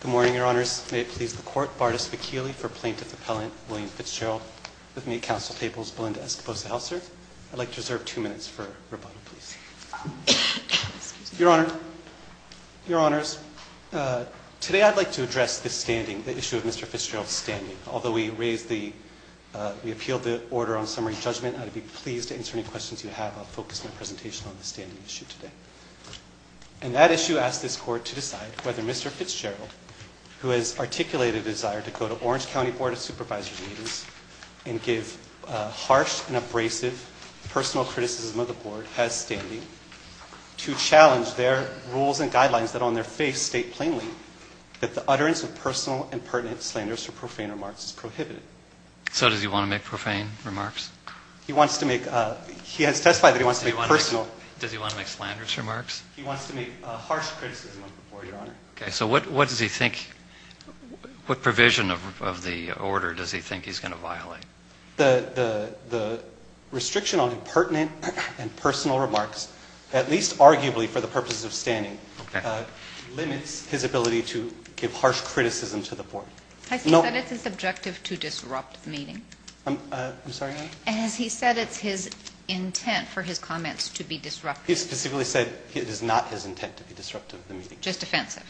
Good morning, Your Honors. May it please the Court, Bardus McKeeley for Plaintiff Appellant William Fitzgerald with me at Council Tables, Belinda Escobosa-Helser. I'd like to reserve two minutes for rebuttal, please. Your Honor, Your Honors, today I'd like to address this standing, the issue of Mr. Fitzgerald's standing. Although we appealed the order on summary judgment, I'd be pleased to answer any questions you have. I'll focus my presentation on the issue of Mr. Fitzgerald, who has articulated a desire to go to Orange County Board of Supervisors meetings and give harsh and abrasive personal criticism of the Board as standing to challenge their rules and guidelines that on their face state plainly that the utterance of personal and pertinent slanderous or profane remarks is prohibited. So does he want to make profane remarks? He wants to make, he has testified that he wants to make personal. Does he want to make slanderous remarks? He wants to make a harsh criticism of the Board, Your Honor. Okay. So what does he think, what provision of the order does he think he's going to violate? The restriction on pertinent and personal remarks, at least arguably for the purposes of standing, limits his ability to give harsh criticism to the Board. Has he said it's his objective to disrupt the meeting? I'm sorry, Your Honor? Has he said it's his intent for his comments to be disruptive? He specifically said it is not his intent to be disruptive of the meeting. Just offensive?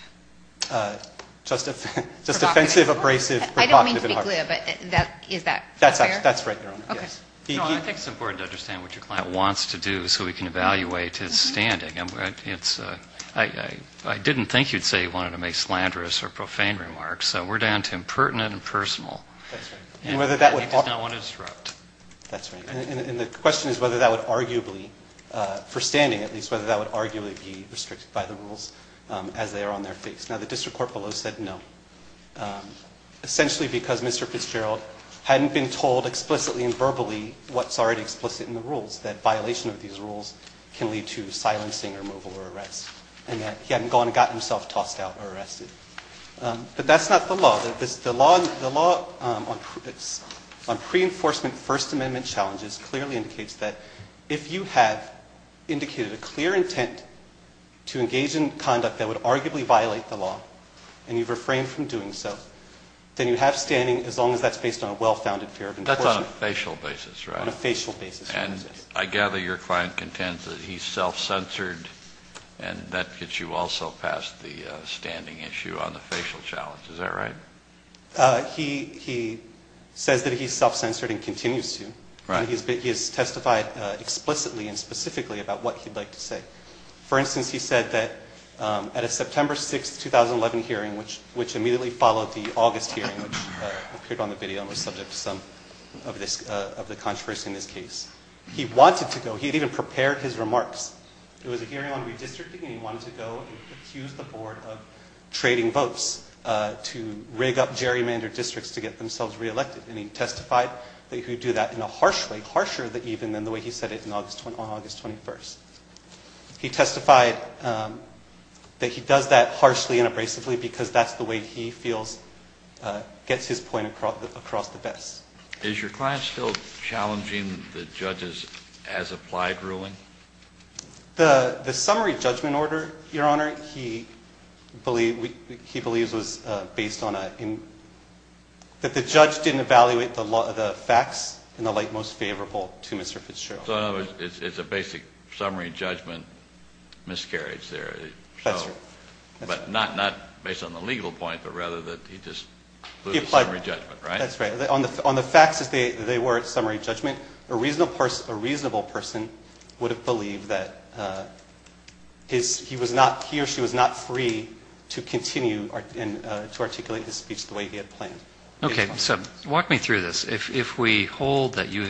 Just offensive, abrasive, provocative and harsh. I didn't mean to be glib, but is that fair? That's right, Your Honor. Okay. No, I think it's important to understand what your client wants to do so we can evaluate his standing. I didn't think you'd say he wanted to make slanderous or profane remarks, so we're down to impertinent and personal. That's right. And whether that would... And he does not want to disrupt. That's right. And the question is whether that would arguably, for standing at least, whether that would arguably be restricted by the rules as they are on their face. Now, the District Court below said no, essentially because Mr. Fitzgerald hadn't been told explicitly and verbally what's already explicit in the rules, that violation of these rules can lead to silencing, removal or arrest, and that he hadn't gone and gotten himself tossed out or arrested. But that's not the law. The law on pre-enforcement First Amendment challenges clearly indicates that if you have indicated a clear intent to engage in conduct that would arguably violate the law and you've refrained from doing so, then you have standing as long as that's based on a well-founded fear of enforcement. That's on a facial basis, right? On a facial basis, yes. And I gather your client contends that he's self-censored and that gets you also past the standing issue on the facial challenge. Is that right? He says that he's self-censored and continues to. Right. He has testified explicitly and specifically about what he'd like to say. For instance, he said that at a September 6th, 2011 hearing, which immediately followed the August hearing, which appeared on the video and was subject to some of the controversy in this case, he wanted to go. He had even prepared his remarks. It was a hearing on votes to rig up gerrymandered districts to get themselves reelected. And he testified that he would do that in a harsh way, harsher even than the way he said it on August 21st. He testified that he does that harshly and abrasively because that's the way he feels gets his point across the best. Is your client still challenging the judges as applied ruling? The summary judgment order, Your Honor, he believes was based on a, that the judge didn't evaluate the facts in the light most favorable to Mr. Fitzgerald. So in other words, it's a basic summary judgment miscarriage there. That's right. But not based on the legal point, but rather that he just blew the summary judgment, right? That's right. On the facts as they were at summary judgment, a reasonable person would have believed that he was not, he or she was not free to continue to articulate his speech the way he had planned. Okay. So walk me through this. If we hold that your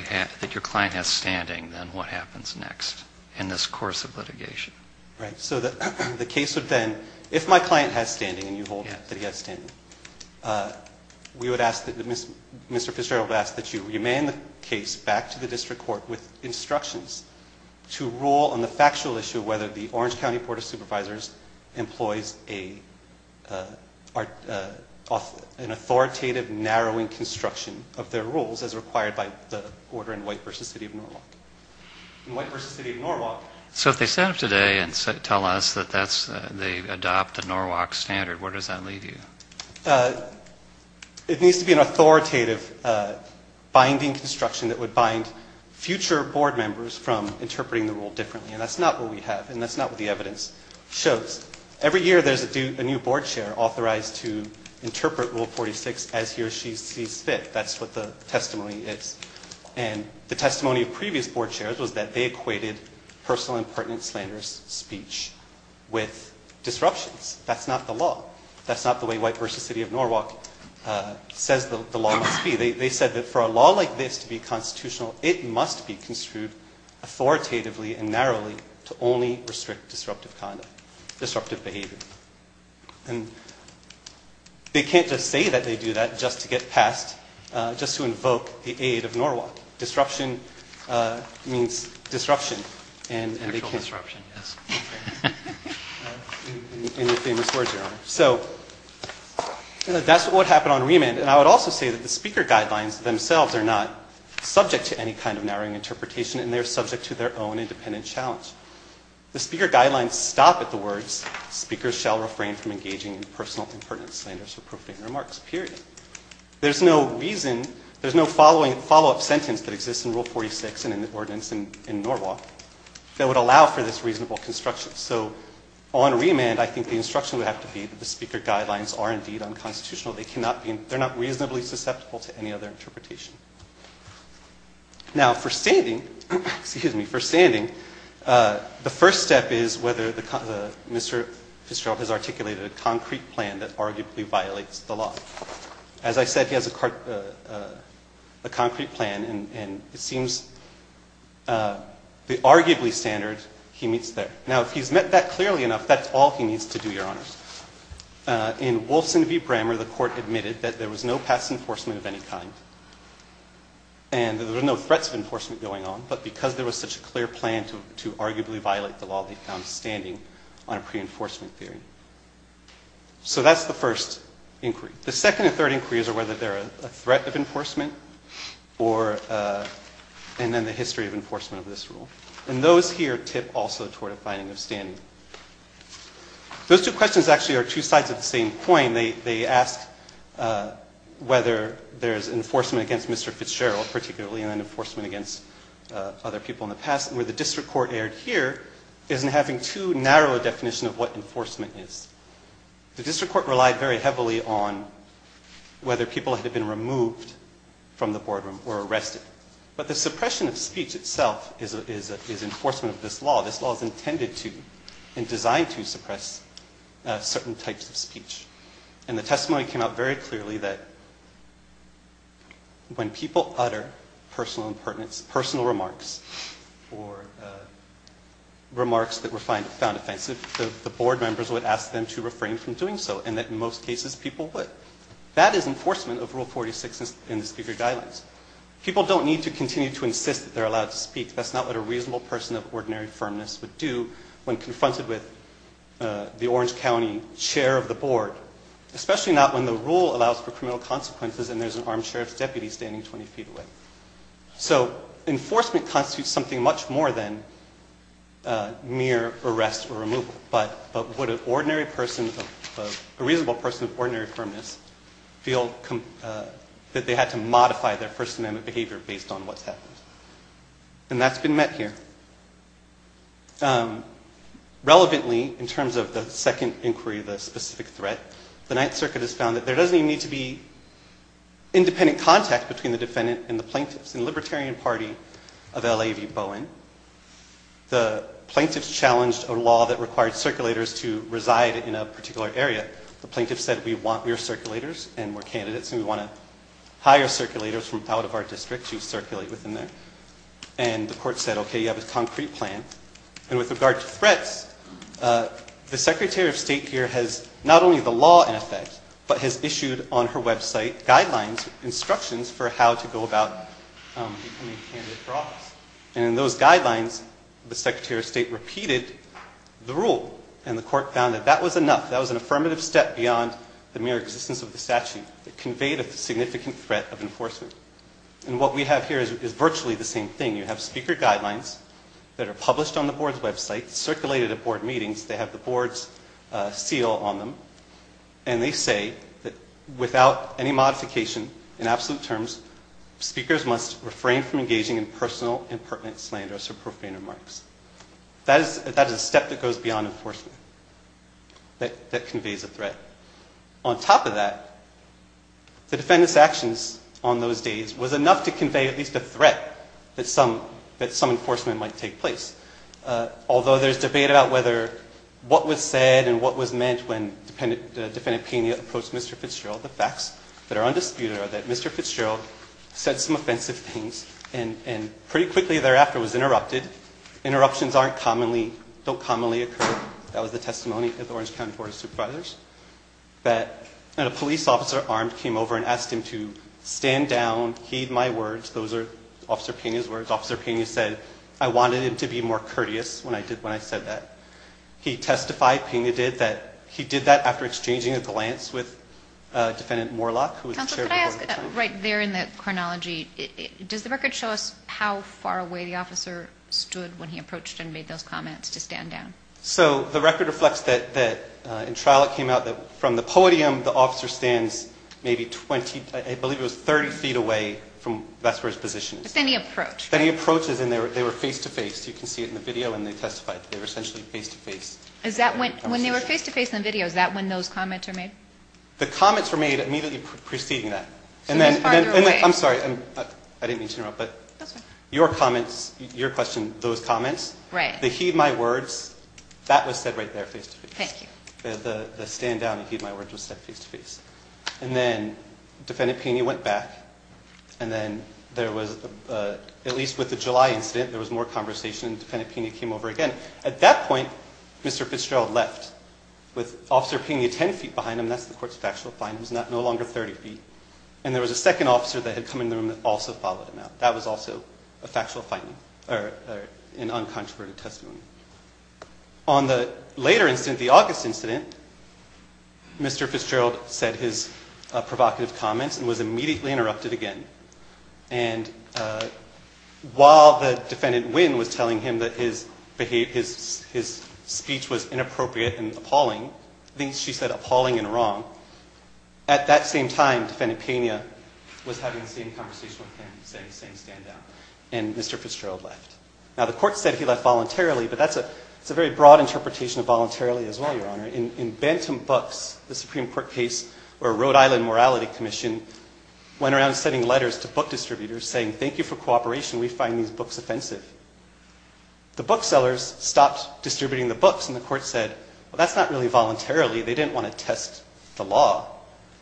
client has standing, then what happens next in this course of litigation? Right. So the case would then, if my client has standing and you hold that he has standing, we would ask that Mr. Fitzgerald ask that you remain the case back to the district court with instructions to rule on the factual issue of whether the Orange County Board of Supervisors employs an authoritative narrowing construction of their rules as required by the order in White v. City of Norwalk. In White v. City of Norwalk... So if they stand up today and tell us that they adopt the Norwalk standard, where does that leave you? It needs to be an authoritative binding construction that would bind future board members from interpreting the rule differently. And that's not what we have, and that's not what the evidence shows. Every year there's a new board chair authorized to interpret Rule 46 as he or she sees fit. That's what the testimony is. And the testimony of previous board chairs was that they equated personal and pertinent slanderous speech with disruptions. That's not the law. That's not the way White v. City of Norwalk says the law must be. They said that for a law like this to be constitutional, it must be construed authoritatively and narrowly to only restrict disruptive conduct, disruptive behavior. And they can't just say that they do that just to get passed, just to invoke the aid of Norwalk. Disruption means disruption. And they can't... Actual disruption, yes. In your famous words, Your Honor. So that's what would happen on remand. And I would also say that the speaker guidelines themselves are not subject to any kind of narrowing interpretation and they're subject to their own independent challenge. The speaker guidelines stop at the words, speakers shall refrain from engaging in personal and pertinent slanderous or profane remarks, period. There's no reason, there's no following, follow-up sentence that exists in Rule 46 and in the ordinance in Norwalk that would allow for this reasonable construction. So on remand, I think the instruction would have to be that the speaker guidelines are indeed unconstitutional. They cannot be, they're not reasonably susceptible to any other interpretation. Now for standing, excuse me, for standing, the first step is whether Mr. Fitzgerald has articulated a concrete plan that arguably violates the law. As I said, he has a concrete plan and it seems the arguably standard he meets there. Now if he's met that clearly enough, that's all he needs to do, Your Honor. In Wolfson v. Brammer, the court admitted that there was no past enforcement of any kind and that there were no threats of enforcement going on, but because there was such a clear plan to arguably violate the law, they found standing on a pre-enforcement theory. So that's the first inquiry. The second and third inquiries are whether there are a threat of enforcement and then the history of enforcement of this rule. And those here tip also toward a finding of standing. Those two questions actually are two sides of the same coin. They ask whether there's enforcement against Mr. Fitzgerald particularly and then enforcement against other people in the past, where the district court aired here isn't having too narrow a definition of what enforcement is. The district court relied very heavily on whether people had been removed from the boardroom or arrested. But the suppression of speech itself is enforcement of this law. This law is intended to and designed to suppress certain types of speech. And the testimony came out very clearly that when people utter personal remarks or remarks that were found offensive, the board members would ask them to refrain from doing so and that in most cases people would. That is enforcement of Rule 46 in the Speaker Guidelines. People don't need to continue to insist that they're allowed to speak. That's not what a reasonable person of ordinary firmness would do when confronted with the Orange County chair of the board, especially not when the rule allows for criminal consequences and there's an armed sheriff's deputy standing 20 feet away. So enforcement constitutes something much more than mere arrest or removal. But would an ordinary person, a reasonable person of ordinary firmness feel that they had to modify their First Amendment behavior based on what's happened? And that's been met here. Relevantly, in terms of the second inquiry, the specific threat, the Ninth Circuit has found that there doesn't even need to be independent contact between the defendant and the plaintiffs in the Libertarian Party of L.A. v. Bowen. The plaintiffs challenged a law that required circulators to reside in a particular area. The plaintiffs said we want mere circulators and we're candidates and we want to hire circulators from out of our district to circulate within there. And the court said, okay, you have a concrete plan. And with regard to threats, the Secretary of State here has not only the law in effect, but has issued on her website guidelines, instructions for how to go about becoming a candidate for office. And in those guidelines, the Secretary of State repeated the rule and the court found that that was enough. That was an affirmative step beyond the mere existence of the statute. It conveyed a significant threat of enforcement. And what we have here is virtually the same thing. You have speaker guidelines that are published on the board's website. And they say that without any modification in absolute terms, speakers must refrain from engaging in personal and pertinent slanders or profane remarks. That is a step that goes beyond enforcement that conveys a threat. On top of that, the defendant's actions on those days was enough to convey at least a threat that some enforcement might take place. Although there's debate about what was said and what was meant when Defendant Pena approached Mr. Fitzgerald, the facts that are undisputed are that Mr. Fitzgerald said some offensive things and pretty quickly thereafter was interrupted. Interruptions don't commonly occur. That was the testimony of the Orange County Board of Supervisors. And a police officer armed came over and asked him to stand down, heed my words. Those are Officer Pena's words. Officer Pena was more courteous when I said that. He testified, Pena did, that he did that after exchanging a glance with Defendant Moorlach, who was the chair of the Board of Supervisors. Counselor, could I ask, right there in the chronology, does the record show us how far away the officer stood when he approached and made those comments to stand down? So the record reflects that in trial it came out that from the podium the officer stands maybe 20, I believe it was 30 feet away from, that's where his position is. But then he approached. Then he approaches and they were face to face. You can see it in the video when they testified. They were essentially face to face. Is that when, when they were face to face in the video, is that when those comments were made? The comments were made immediately preceding that. So that's farther away. I'm sorry, I didn't mean to interrupt, but your comments, your question, those comments, the heed my words, that was said right there face to face. Thank you. The stand down and heed my words was said face to face. And then Defendant Pena went back and then there was, at least with the July incident, there was more conversation and Defendant Pena came over again. At that point, Mr. Fitzgerald left with Officer Pena 10 feet behind him. That's the court's factual finding. He was no longer 30 feet. And there was a second officer that had come in the room that also followed him out. That was also a factual finding or an uncontroverted testimony. On the later incident, the August incident, Mr. Fitzgerald said his provocative comments and was immediately interrupted again. And while the Defendant Wynn was telling him that his speech was inappropriate and appalling, I think she said appalling and wrong, at that same time, Defendant Pena was having the same conversation with him, saying stand down. And Mr. Fitzgerald left. Now, the court said he left voluntarily, but that's a very broad interpretation of voluntarily as well, Your Honor. In Bantam Books, the Supreme Court case where Rhode Island Morality Commission went around sending letters to book distributors saying thank you for cooperation. We find these books offensive. The booksellers stopped distributing the books and the court said, well, that's not really voluntarily. They didn't want to test the law.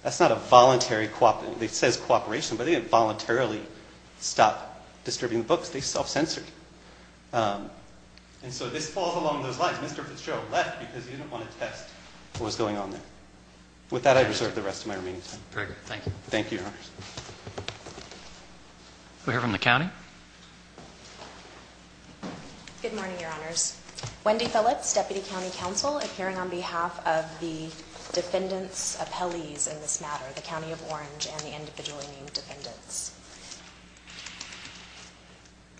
That's not a voluntary, it says cooperation, but they didn't voluntarily stop distributing the books. They self-censored. And so this falls along those lines. Mr. Fitzgerald left because he didn't want to test what was going on there. With that, I reserve the rest of my remaining time. Very good. Thank you. Thank you, Your Honors. We'll hear from the county. Good morning, Your Honors. Wendy Phillips, Deputy County Counsel, appearing on behalf of the Defendant's Appellees in this matter, the County of Orange and the individually named defendants.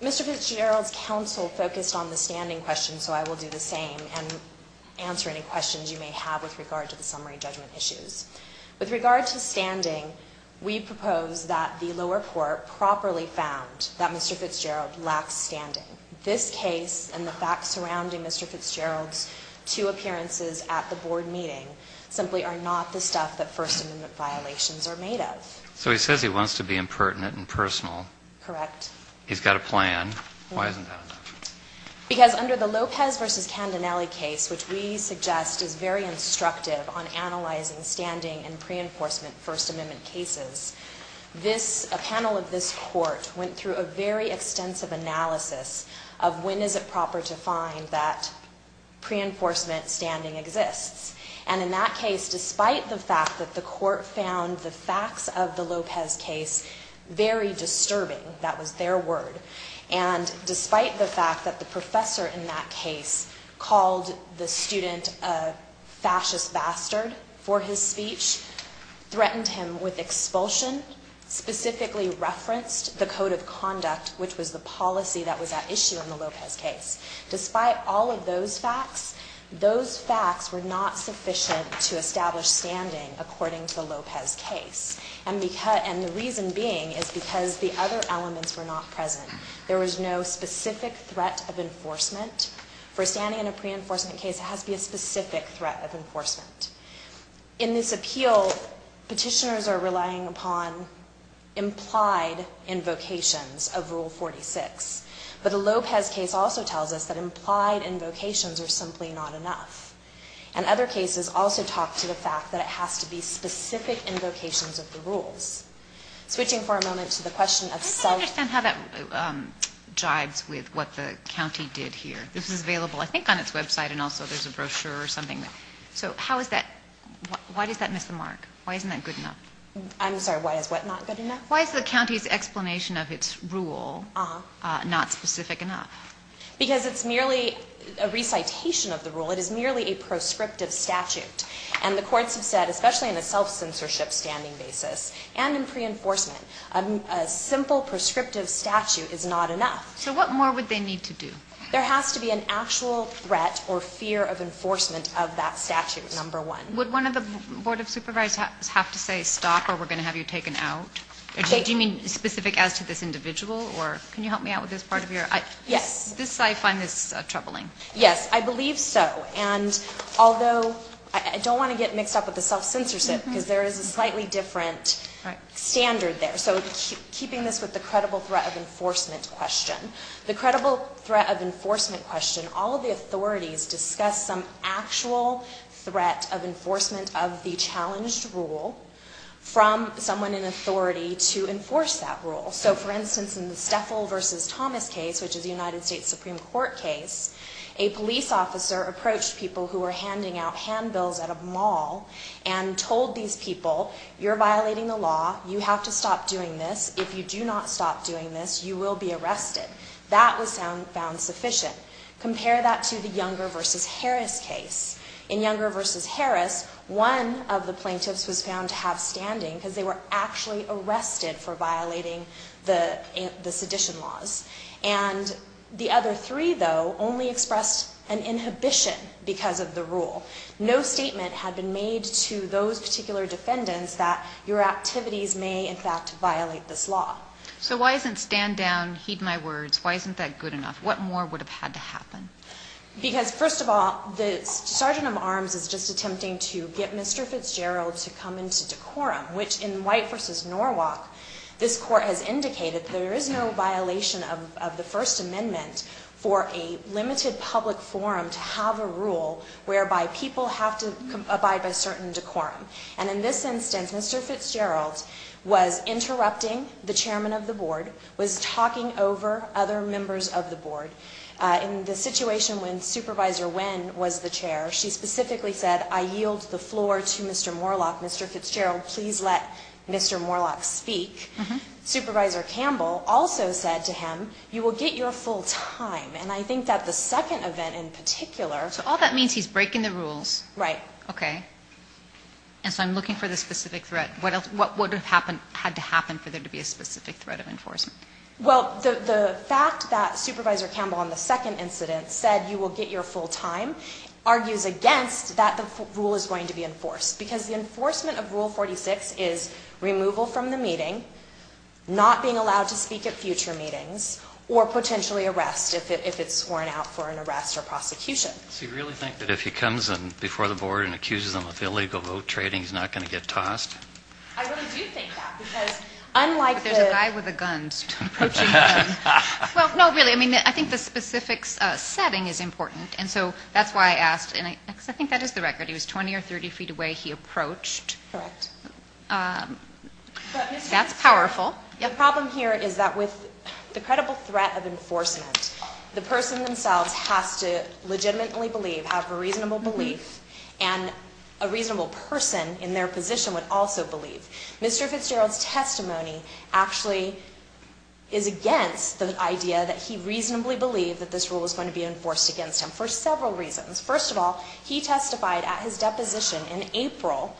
Mr. Fitzgerald's counsel focused on the standing question, so I will do the same. And answer any questions you may have with regard to the summary judgment issues. With regard to standing, we propose that the lower court properly found that Mr. Fitzgerald lacks standing. This case and the facts surrounding Mr. Fitzgerald's two appearances at the board meeting simply are not the stuff that First Amendment violations are made of. So he says he wants to be impertinent and personal. Correct. He's got a plan. Why isn't that enough? Because under the Lopez v. Candinelli case, which we suggest is very instructive on analyzing standing in pre-enforcement First Amendment cases, a panel of this court went through a very extensive analysis of when is it proper to find that pre-enforcement standing exists. And in that case, despite the fact that the court found the facts of the Lopez case very the professor in that case called the student a fascist bastard for his speech, threatened him with expulsion, specifically referenced the code of conduct, which was the policy that was at issue in the Lopez case. Despite all of those facts, those facts were not sufficient to establish standing according to the Lopez case, and the reason being is because the other elements were not present. There was no specific threat of enforcement. For standing in a pre-enforcement case, it has to be a specific threat of enforcement. In this appeal, petitioners are relying upon implied invocations of Rule 46, but the Lopez case also tells us that implied invocations are simply not enough. And other cases also talk to the fact that it has to be specific invocations of the rules. Switching for a moment to the question of self- I don't understand how that jibes with what the county did here. This is available, I think, on its website, and also there's a brochure or something. So how is that, why does that miss the mark? Why isn't that good enough? I'm sorry, why is what not good enough? Why is the county's explanation of its rule not specific enough? Because it's merely a recitation of the rule. It is merely a proscriptive statute, and the courts have said, especially in a self-censorship standing basis, and in pre-enforcement, a simple proscriptive statute is not enough. So what more would they need to do? There has to be an actual threat or fear of enforcement of that statute, number one. Would one of the Board of Supervisors have to say, stop, or we're going to have you taken out? Do you mean specific as to this individual, or can you help me out with this part of your- Yes. I find this troubling. Yes, I believe so. And although, I don't want to get mixed up with the self-censorship, because there is a slightly different standard there. So keeping this with the credible threat of enforcement question, the credible threat of enforcement question, all of the authorities discuss some actual threat of enforcement of the challenged rule from someone in authority to enforce that rule. So for instance, in the Stefel v. Thomas case, which is a United States Supreme Court case, a police officer approached people who were handing out handbills at a mall and told these people, you're violating the law, you have to stop doing this. If you do not stop doing this, you will be arrested. That was found sufficient. Compare that to the Younger v. Harris case. In Younger v. Harris, one of the plaintiffs was found to have standing because they were actually arrested for violating the sedition laws. And the other three, though, only expressed an inhibition because of the rule. No statement had been made to those particular defendants that your activities may in fact violate this law. So why isn't stand down, heed my words, why isn't that good enough? What more would have had to happen? Because first of all, the Sergeant of Arms is just attempting to get Mr. Fitzgerald to come into decorum, which in White v. Norwalk, this court has indicated there is no violation of the First Amendment for a limited public forum to have a rule whereby people have to abide by certain decorum. And in this instance, Mr. Fitzgerald was interrupting the chairman of the board, was talking over other members of the board. In the situation when Supervisor Wynn was the chair, she specifically said, I yield the floor to Mr. Moorlach, Mr. Fitzgerald, please let Mr. Moorlach speak. Supervisor Campbell also said to him, you will get your full time. And I think that the second event in particular. So all that means, he's breaking the rules. Right. Okay. And so I'm looking for the specific threat. What would have happened, had to happen for there to be a specific threat of enforcement? Well, the fact that Supervisor Campbell on the second incident said, you will get your full time, argues against that the rule is going to be enforced. Because the enforcement of Rule 46 is removal from the meeting, not being allowed to speak at future meetings, or potentially arrest if it's sworn out for an arrest or prosecution. So you really think that if he comes in before the board and accuses them of illegal vote trading, he's not going to get tossed? I really do think that. Because unlike the... But there's a guy with a gun approaching the room. Well, no, really. I mean, I think the specific setting is important. And so that's why I asked, and I think that is the record. He was 20 or 30 feet away. He approached. Correct. That's powerful. Yeah. The problem here is that with the credible threat of enforcement, the person themselves has to legitimately believe, have a reasonable belief, and a reasonable person in their position would also believe. Mr. Fitzgerald's testimony actually is against the idea that he reasonably believed that this rule was going to be enforced against him for several reasons. First of all, he testified at his deposition in April,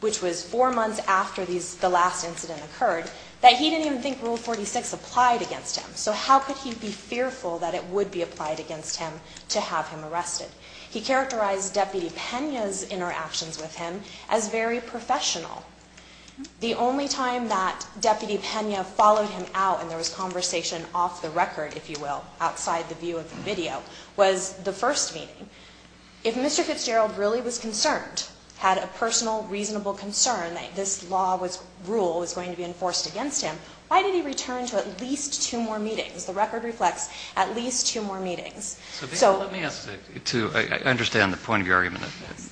which was four months after the last incident occurred, that he didn't even think Rule 46 applied against him. So how could he be fearful that it would be applied against him to have him arrested? He characterized Deputy Pena's interactions with him as very professional. The only time that Deputy Pena followed him out, and there was conversation off the record, if you will, outside the view of the video, was the first meeting. If Mr. Fitzgerald really was concerned, had a personal, reasonable concern that this law was, rule was going to be enforced against him, why did he return to at least two more meetings? The record reflects at least two more meetings. So let me ask, to understand the point of your argument,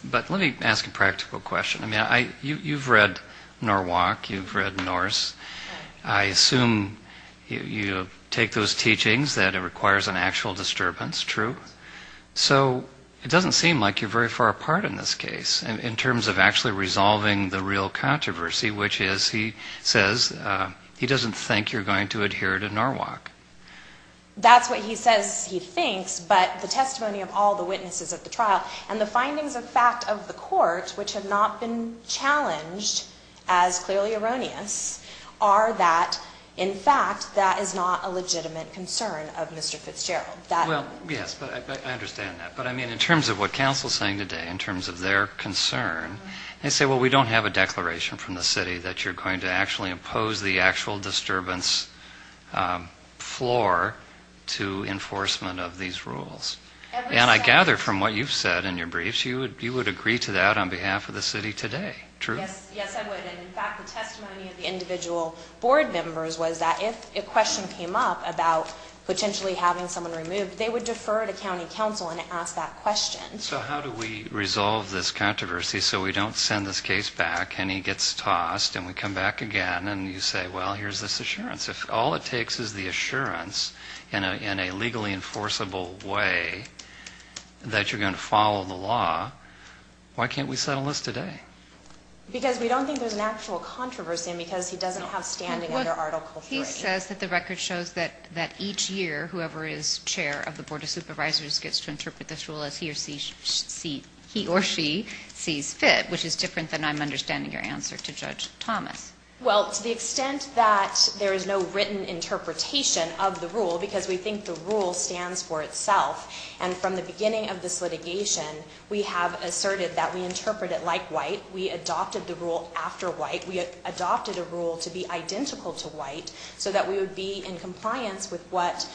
but let me ask a practical question. I mean, you've read Norwalk. You've read Norse. I assume you take those teachings that it requires an actual disturbance, true? So it doesn't seem like you're very far apart in this case, in terms of actually resolving the real controversy, which is, he says, he doesn't think you're going to adhere to Norwalk. That's what he says he thinks, but the testimony of all the witnesses at the trial and the are that, in fact, that is not a legitimate concern of Mr. Fitzgerald. Well, yes, but I understand that, but I mean, in terms of what counsel is saying today, in terms of their concern, they say, well, we don't have a declaration from the city that you're going to actually impose the actual disturbance floor to enforcement of these rules. And I gather from what you've said in your briefs, you would agree to that on behalf of the city today, true? Yes, I would. And in fact, the testimony of the individual board members was that if a question came up about potentially having someone removed, they would defer to county counsel and ask that question. So how do we resolve this controversy so we don't send this case back and he gets tossed and we come back again and you say, well, here's this assurance. If all it takes is the assurance in a legally enforceable way that you're going to follow the law, why can't we settle this today? Because we don't think there's an actual controversy because he doesn't have standing under Article 3. He says that the record shows that each year, whoever is chair of the Board of Supervisors gets to interpret this rule as he or she sees fit, which is different than I'm understanding your answer to Judge Thomas. Well, to the extent that there is no written interpretation of the rule, because we think the rule stands for itself, and from the beginning of this litigation, we have asserted that we interpret it like white. We adopted the rule after white. We adopted a rule to be identical to white so that we would be in compliance with what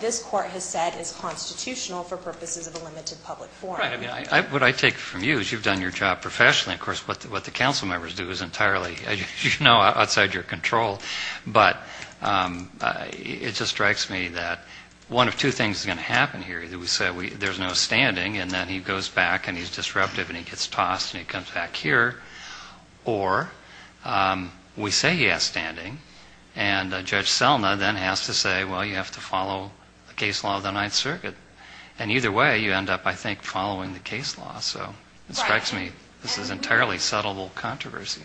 this court has said is constitutional for purposes of a limited public forum. Right. I mean, what I take from you is you've done your job professionally. Of course, what the council members do is entirely, as you know, outside your control. But it just strikes me that one of two things is going to happen here. Either we say there's no standing, and then he goes back, and he's disruptive, and he gets tossed, and he comes back here, or we say he has standing, and Judge Selma then has to say, well, you have to follow the case law of the Ninth Circuit. And either way, you end up, I think, following the case law. So it strikes me this is entirely settleable controversy.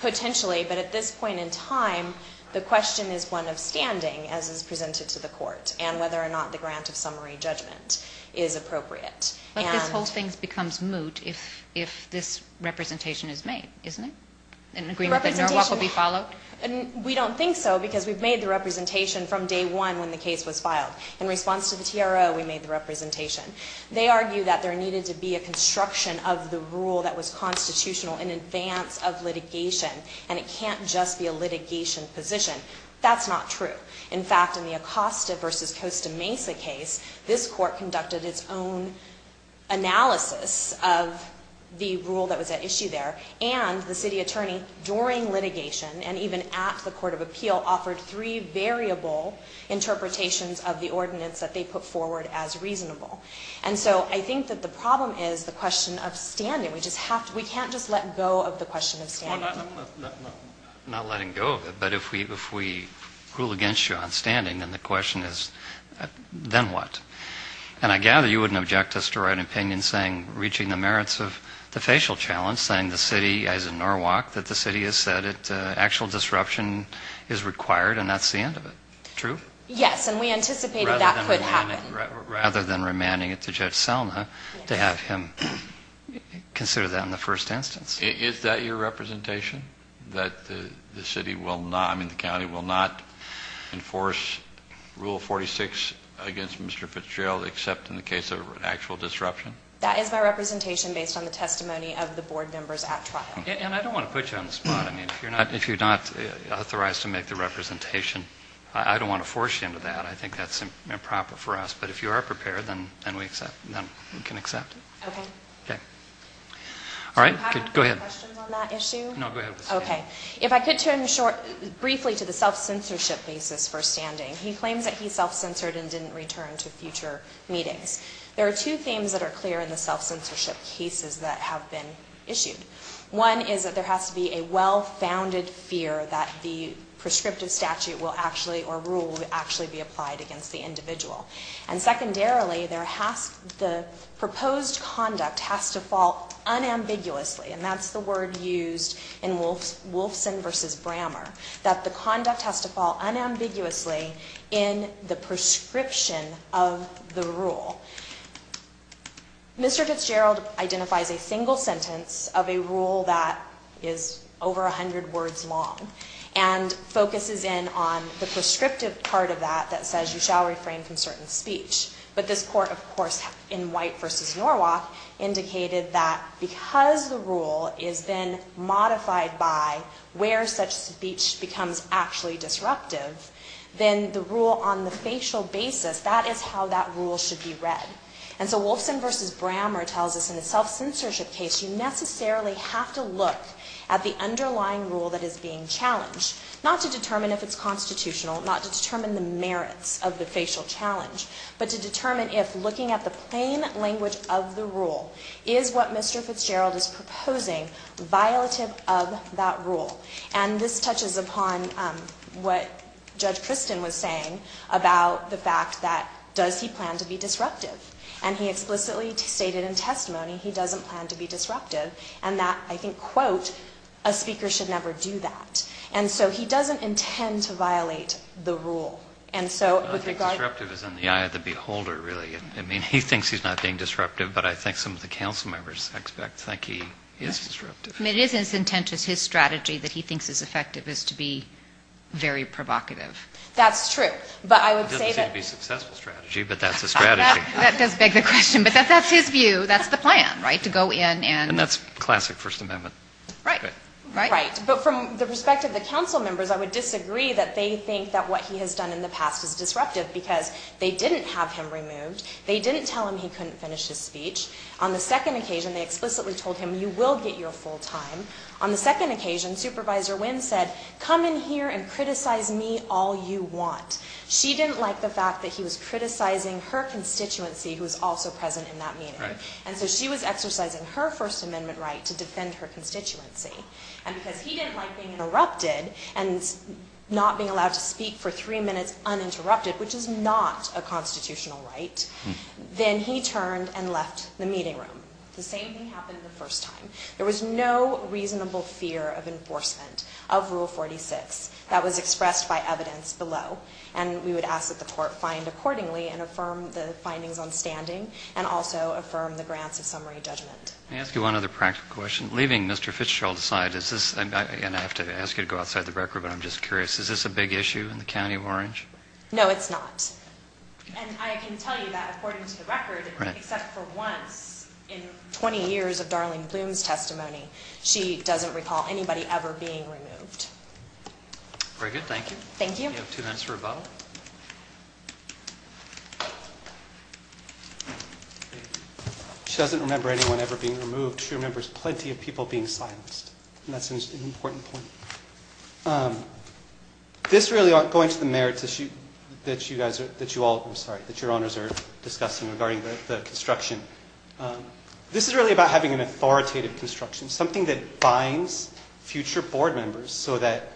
Potentially. But at this point in time, the question is one of standing, as is presented to the court, and whether or not the grant of summary judgment is appropriate. But this whole thing becomes moot if this representation is made, isn't it? In agreement that Norwalk will be followed? We don't think so, because we've made the representation from day one when the case was filed. In response to the TRO, we made the representation. They argue that there needed to be a construction of the rule that was constitutional in advance of litigation, and it can't just be a litigation position. That's not true. In fact, in the Acosta v. Costa Mesa case, this court conducted its own analysis of the rule that was at issue there, and the city attorney, during litigation, and even at the court of appeal, offered three variable interpretations of the ordinance that they put forward as reasonable. And so I think that the problem is the question of standing. We just have to – we can't just let go of the question of standing. I'm not letting go of it, but if we rule against you on standing, then the question is, then what? And I gather you wouldn't object us to write an opinion saying, reaching the merits of the facial challenge, saying the city, as in Norwalk, that the city has said that actual disruption is required, and that's the end of it. True? Yes. And we anticipated that could happen. Rather than remanding it to Judge Selma to have him consider that in the first instance. Is that your representation? That the city will not – I mean, the county will not enforce Rule 46 against Mr. Fitzgerald except in the case of an actual disruption? That is my representation based on the testimony of the board members at trial. And I don't want to put you on the spot. I mean, if you're not – if you're not authorized to make the representation, I don't want to force you into that. I think that's improper for us. But if you are prepared, then we can accept it. Okay. Okay. All right. Good. Go ahead. I have a couple questions on that issue. No, go ahead. Okay. If I could turn short – briefly to the self-censorship basis for standing. He claims that he self-censored and didn't return to future meetings. There are two themes that are clear in the self-censorship cases that have been issued. One is that there has to be a well-founded fear that the prescriptive statute will actually – or rule will actually be applied against the individual. And secondarily, there has – the proposed conduct has to fall unambiguously – and that's the word used in Wolfson v. Brammer – that the conduct has to fall unambiguously in the prescription of the rule. Mr. Fitzgerald identifies a single sentence of a rule that is over 100 words long and focuses in on the prescriptive part of that that says you shall refrain from certain speech. But this court, of course, in White v. Norwalk, indicated that because the rule is then modified by where such speech becomes actually disruptive, then the rule on the facial basis, that is how that rule should be read. And so Wolfson v. Brammer tells us in a self-censorship case, you necessarily have to look at the not to determine if it's constitutional, not to determine the merits of the facial challenge, but to determine if looking at the plain language of the rule is what Mr. Fitzgerald is proposing violative of that rule. And this touches upon what Judge Christin was saying about the fact that does he plan to be disruptive? And he explicitly stated in testimony he doesn't plan to be disruptive and that, I think, quote, a speaker should never do that. And so he doesn't intend to violate the rule. And so with regard to... I think disruptive is in the eye of the beholder, really. I mean, he thinks he's not being disruptive, but I think some of the council members expect, think he is disruptive. I mean, it is as intent as his strategy that he thinks is effective as to be very provocative. That's true. But I would say that... It doesn't seem to be a successful strategy, but that's a strategy. That does beg the question. But that's his view. That's the plan, right? To go in and... And that's classic First Amendment. Right. Right. But from the perspective of the council members, I would disagree that they think that what he has done in the past is disruptive because they didn't have him removed. They didn't tell him he couldn't finish his speech. On the second occasion, they explicitly told him, you will get your full time. On the second occasion, Supervisor Wynn said, come in here and criticize me all you want. She didn't like the fact that he was criticizing her constituency who was also present in that meeting. Right. And so she was exercising her First Amendment right to defend her constituency. And because he didn't like being interrupted and not being allowed to speak for three minutes uninterrupted, which is not a constitutional right, then he turned and left the meeting room. The same thing happened the first time. There was no reasonable fear of enforcement of Rule 46 that was expressed by evidence below. And we would ask that the court find accordingly and affirm the findings on standing and also affirm the grants of summary judgment. Let me ask you one other practical question. Leaving Mr. Fitzgerald aside, is this, and I have to ask you to go outside the record, but I'm just curious, is this a big issue in the County of Orange? No, it's not. And I can tell you that according to the record, except for once in 20 years of Darlene Bloom's testimony, she doesn't recall anybody ever being removed. Very good. Thank you. Thank you. You have two minutes for rebuttal. She doesn't remember anyone ever being removed. She remembers plenty of people being silenced, and that's an important point. This really, going to the merits issue that you all, I'm sorry, that your honors are discussing regarding the construction, this is really about having an authoritative construction, something that binds future board members so that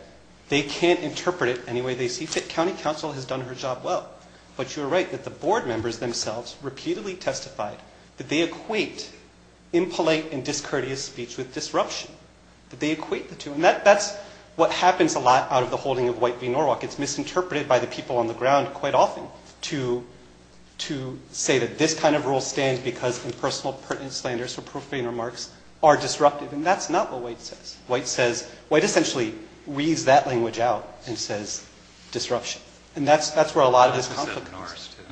they can't interpret it any way they see fit. County Council has done her job well, but you're right that the board members themselves repeatedly testified that they equate impolite and discourteous speech with disruption, that they equate the two. And that's what happens a lot out of the holding of White v. Norwalk. It's misinterpreted by the people on the ground quite often to say that this kind of rule stands because impersonal, pertinent slanders or profane remarks are disruptive, and that's not what White says. White says, White essentially reads that language out and says disruption. And that's where a lot of this conflict comes from.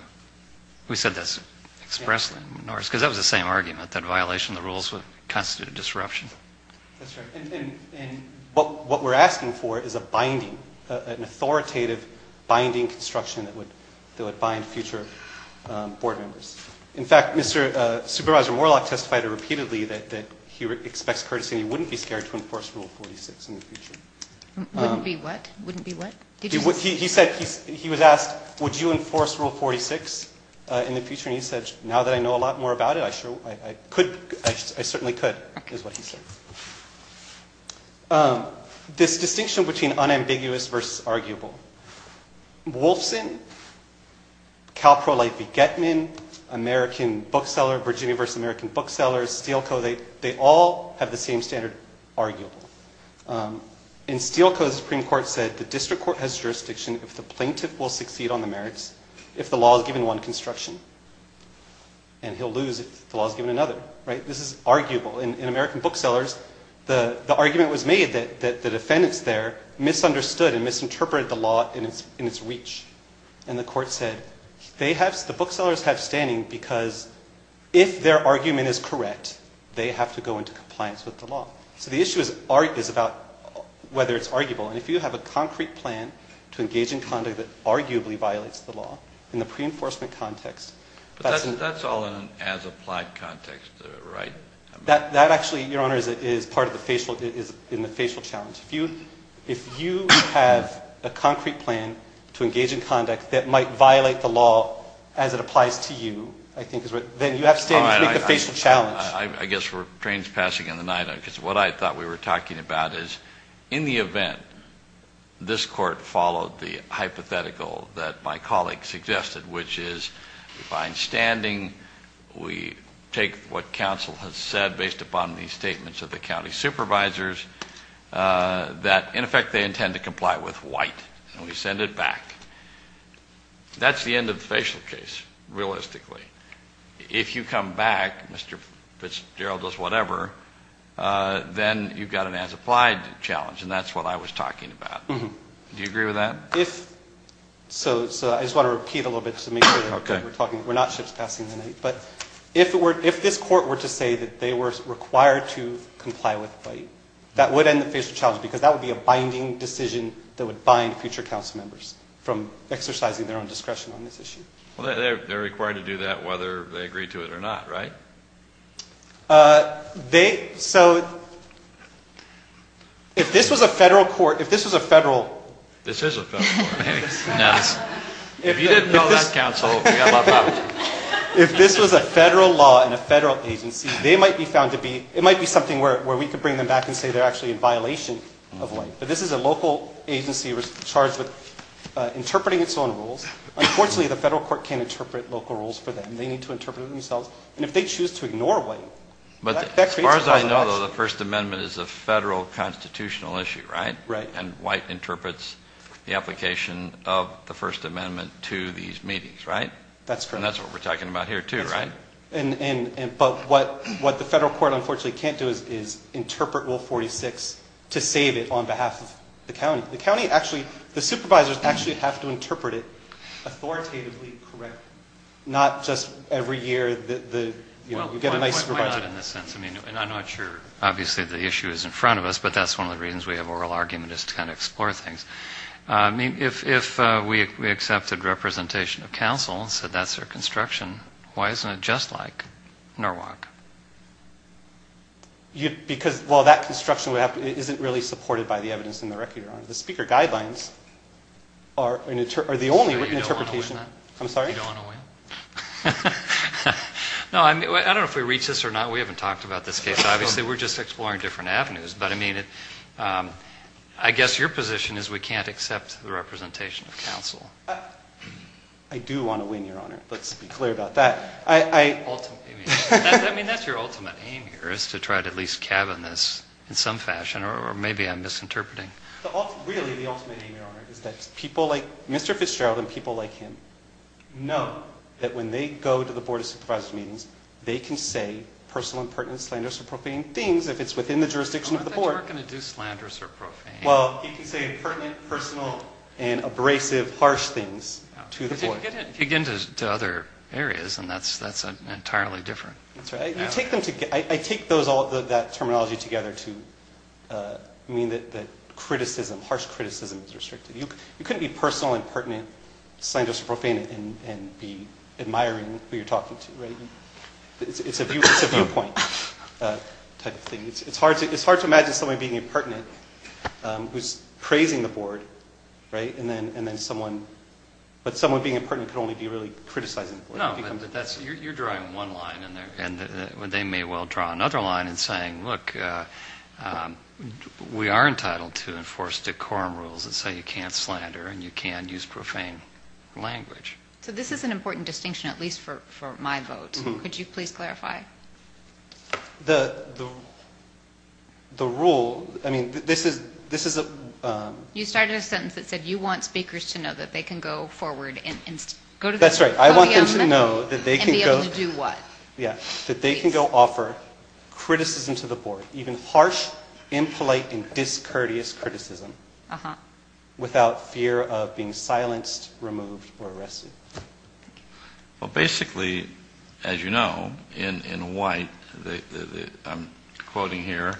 We said that expressly in Norris, because that was the same argument, that violation of the rules would constitute a disruption. That's right. And what we're asking for is a binding, an authoritative binding construction that would bind future board members. In fact, Supervisor Warlock testified repeatedly that he expects courtesy and he wouldn't be able to enforce Rule 46 in the future. Wouldn't be what? Wouldn't be what? He said, he was asked, would you enforce Rule 46 in the future, and he said, now that I know a lot more about it, I could, I certainly could, is what he said. This distinction between unambiguous versus arguable, Wolfson, Calprolite v. Getman, American bookseller, Virginia v. American bookseller, Steele Co., they all have the same standard arguable. In Steele Co., the Supreme Court said the district court has jurisdiction if the plaintiff will succeed on the merits if the law is given one construction, and he'll lose if the law is given another. Right? This is arguable. In American booksellers, the argument was made that the defendants there misunderstood and misinterpreted the law in its reach, and the court said, they have, the booksellers have standing because if their argument is correct, they have to go into compliance with the law. So the issue is about whether it's arguable, and if you have a concrete plan to engage in conduct that arguably violates the law, in the pre-enforcement context, that's But that's all in an as-applied context, right? That actually, Your Honor, is part of the facial, is in the facial challenge. If you have a concrete plan to engage in conduct that might violate the law as it applies to you, I think is what, then you have standing to make the facial challenge. I guess we're trains passing in the night, because what I thought we were talking about is, in the event this court followed the hypothetical that my colleague suggested, which is, we find standing, we take what counsel has said based upon these statements of the county supervisors that, in effect, they intend to comply with white, and we send it back. That's the end of the facial case, realistically. If you come back, Mr. Fitzgerald does whatever, then you've got an as-applied challenge, and that's what I was talking about. Do you agree with that? So, I just want to repeat a little bit to make sure that we're talking, we're not ships passing the night, but if this court were to say that they were required to comply with white, that would end the facial challenge, because that would be a binding decision that would bind future council members from exercising their own discretion on this issue. Well, they're required to do that whether they agree to it or not, right? They, so, if this was a federal court, if this was a federal... This is a federal court. Now, if you didn't know that, counsel, we've got a lot of problems. If this was a federal law in a federal agency, they might be found to be, it might be something where we could bring them back and say they're actually in violation of white, but this is a local agency charged with interpreting its own rules. Unfortunately, the federal court can't interpret local rules for them. They need to interpret it themselves, and if they choose to ignore white, that creates a problem for us. As far as I know, though, the First Amendment is a federal constitutional issue, right? Right. And white interprets the application of the First Amendment to these meetings, right? That's correct. And that's what we're talking about here, too, right? But what the federal court, unfortunately, can't do is interpret Rule 46 to save it on behalf of the county. The county actually, the supervisors actually have to interpret it authoritatively correctly, not just every year that you get a nice supervisor. Well, why not in this sense? I mean, and I'm not sure. Obviously, the issue is in front of us, but that's one of the reasons we have oral argument is to kind of explore things. I mean, if we accepted representation of counsel and said that's their construction, why isn't it just like Norwalk? Because, well, that construction isn't really supported by the evidence in the Recuron. The speaker guidelines are the only interpretation. I'm sorry? You don't want to win? No, I mean, I don't know if we reached this or not. We haven't talked about this case. Obviously, we're just exploring different avenues, but I mean, I guess your position is we can't accept the representation of counsel. I do want to win, Your Honor. Let's be clear about that. I mean, that's your ultimate aim here is to try to at least cabin this in some fashion or maybe I'm misinterpreting. Really, the ultimate aim, Your Honor, is that people like Mr. Fitzgerald and people like him know that when they go to the Board of Supervisors meetings, they can say personal and pertinent, slanderous, or profane things if it's within the jurisdiction of the Board. I don't think we're going to do slanderous or profane. Well, you can say pertinent, personal, and abrasive, harsh things to the Board. But you can get into other areas, and that's entirely different. That's right. I take that terminology together to mean that criticism, harsh criticism, is restricted. You couldn't be personal and pertinent, slanderous or profane, and be admiring who you're talking to. It's a viewpoint type of thing. It's hard to imagine someone being impertinent who's praising the Board, but someone being impertinent could only be really criticizing the Board. You're drawing one line, and they may well draw another line in saying, look, we are entitled to enforce decorum rules that say you can't slander and you can't use profane language. So this is an important distinction, at least for my vote. Could you please clarify? The rule, I mean, this is a... You started a sentence that said you want speakers to know that they can go forward and go to the podium. That's right. I want them to know that they can go... And be able to do what? Yeah, that they can go offer criticism to the Board, even harsh, impolite, and discourteous criticism, without fear of being silenced, removed, or arrested. Well, basically, as you know, in White, I'm quoting here,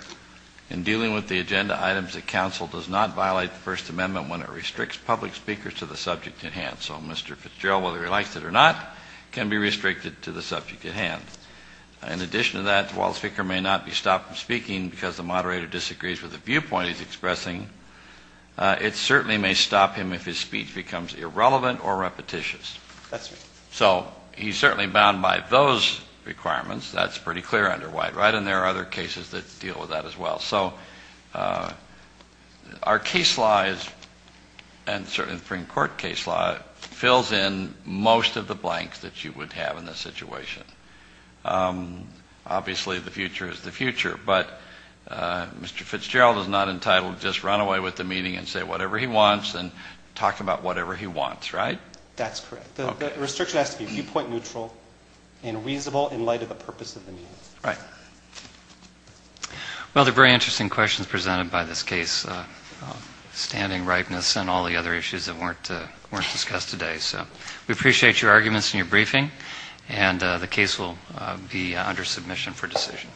in dealing with the agenda items, the Council does not violate the First Amendment when it restricts public speakers to the subject in hand. So Mr. Fitzgerald, whether he likes it or not, can be restricted to the subject at hand. In addition to that, while the speaker may not be stopped from speaking because the moderator disagrees with the viewpoint he's expressing, it certainly may stop him if his speech becomes irrelevant or repetitious. That's right. So he's certainly bound by those requirements. That's pretty clear under White. Right? And there are other cases that deal with that as well. So our case law, and certainly the Supreme Court case law, fills in most of the blanks that you would have in this situation. Obviously, the future is the future. But Mr. Fitzgerald is not entitled to just run away with the meeting and say whatever he wants and talk about whatever he wants, right? That's correct. The restriction has to be viewpoint neutral and reasonable in light of the purpose of the meeting. Right. Well, they're very interesting questions presented by this case. Standing rightness and all the other issues that weren't discussed today. So we appreciate your arguments and your briefing. And the case will be under submission for decision.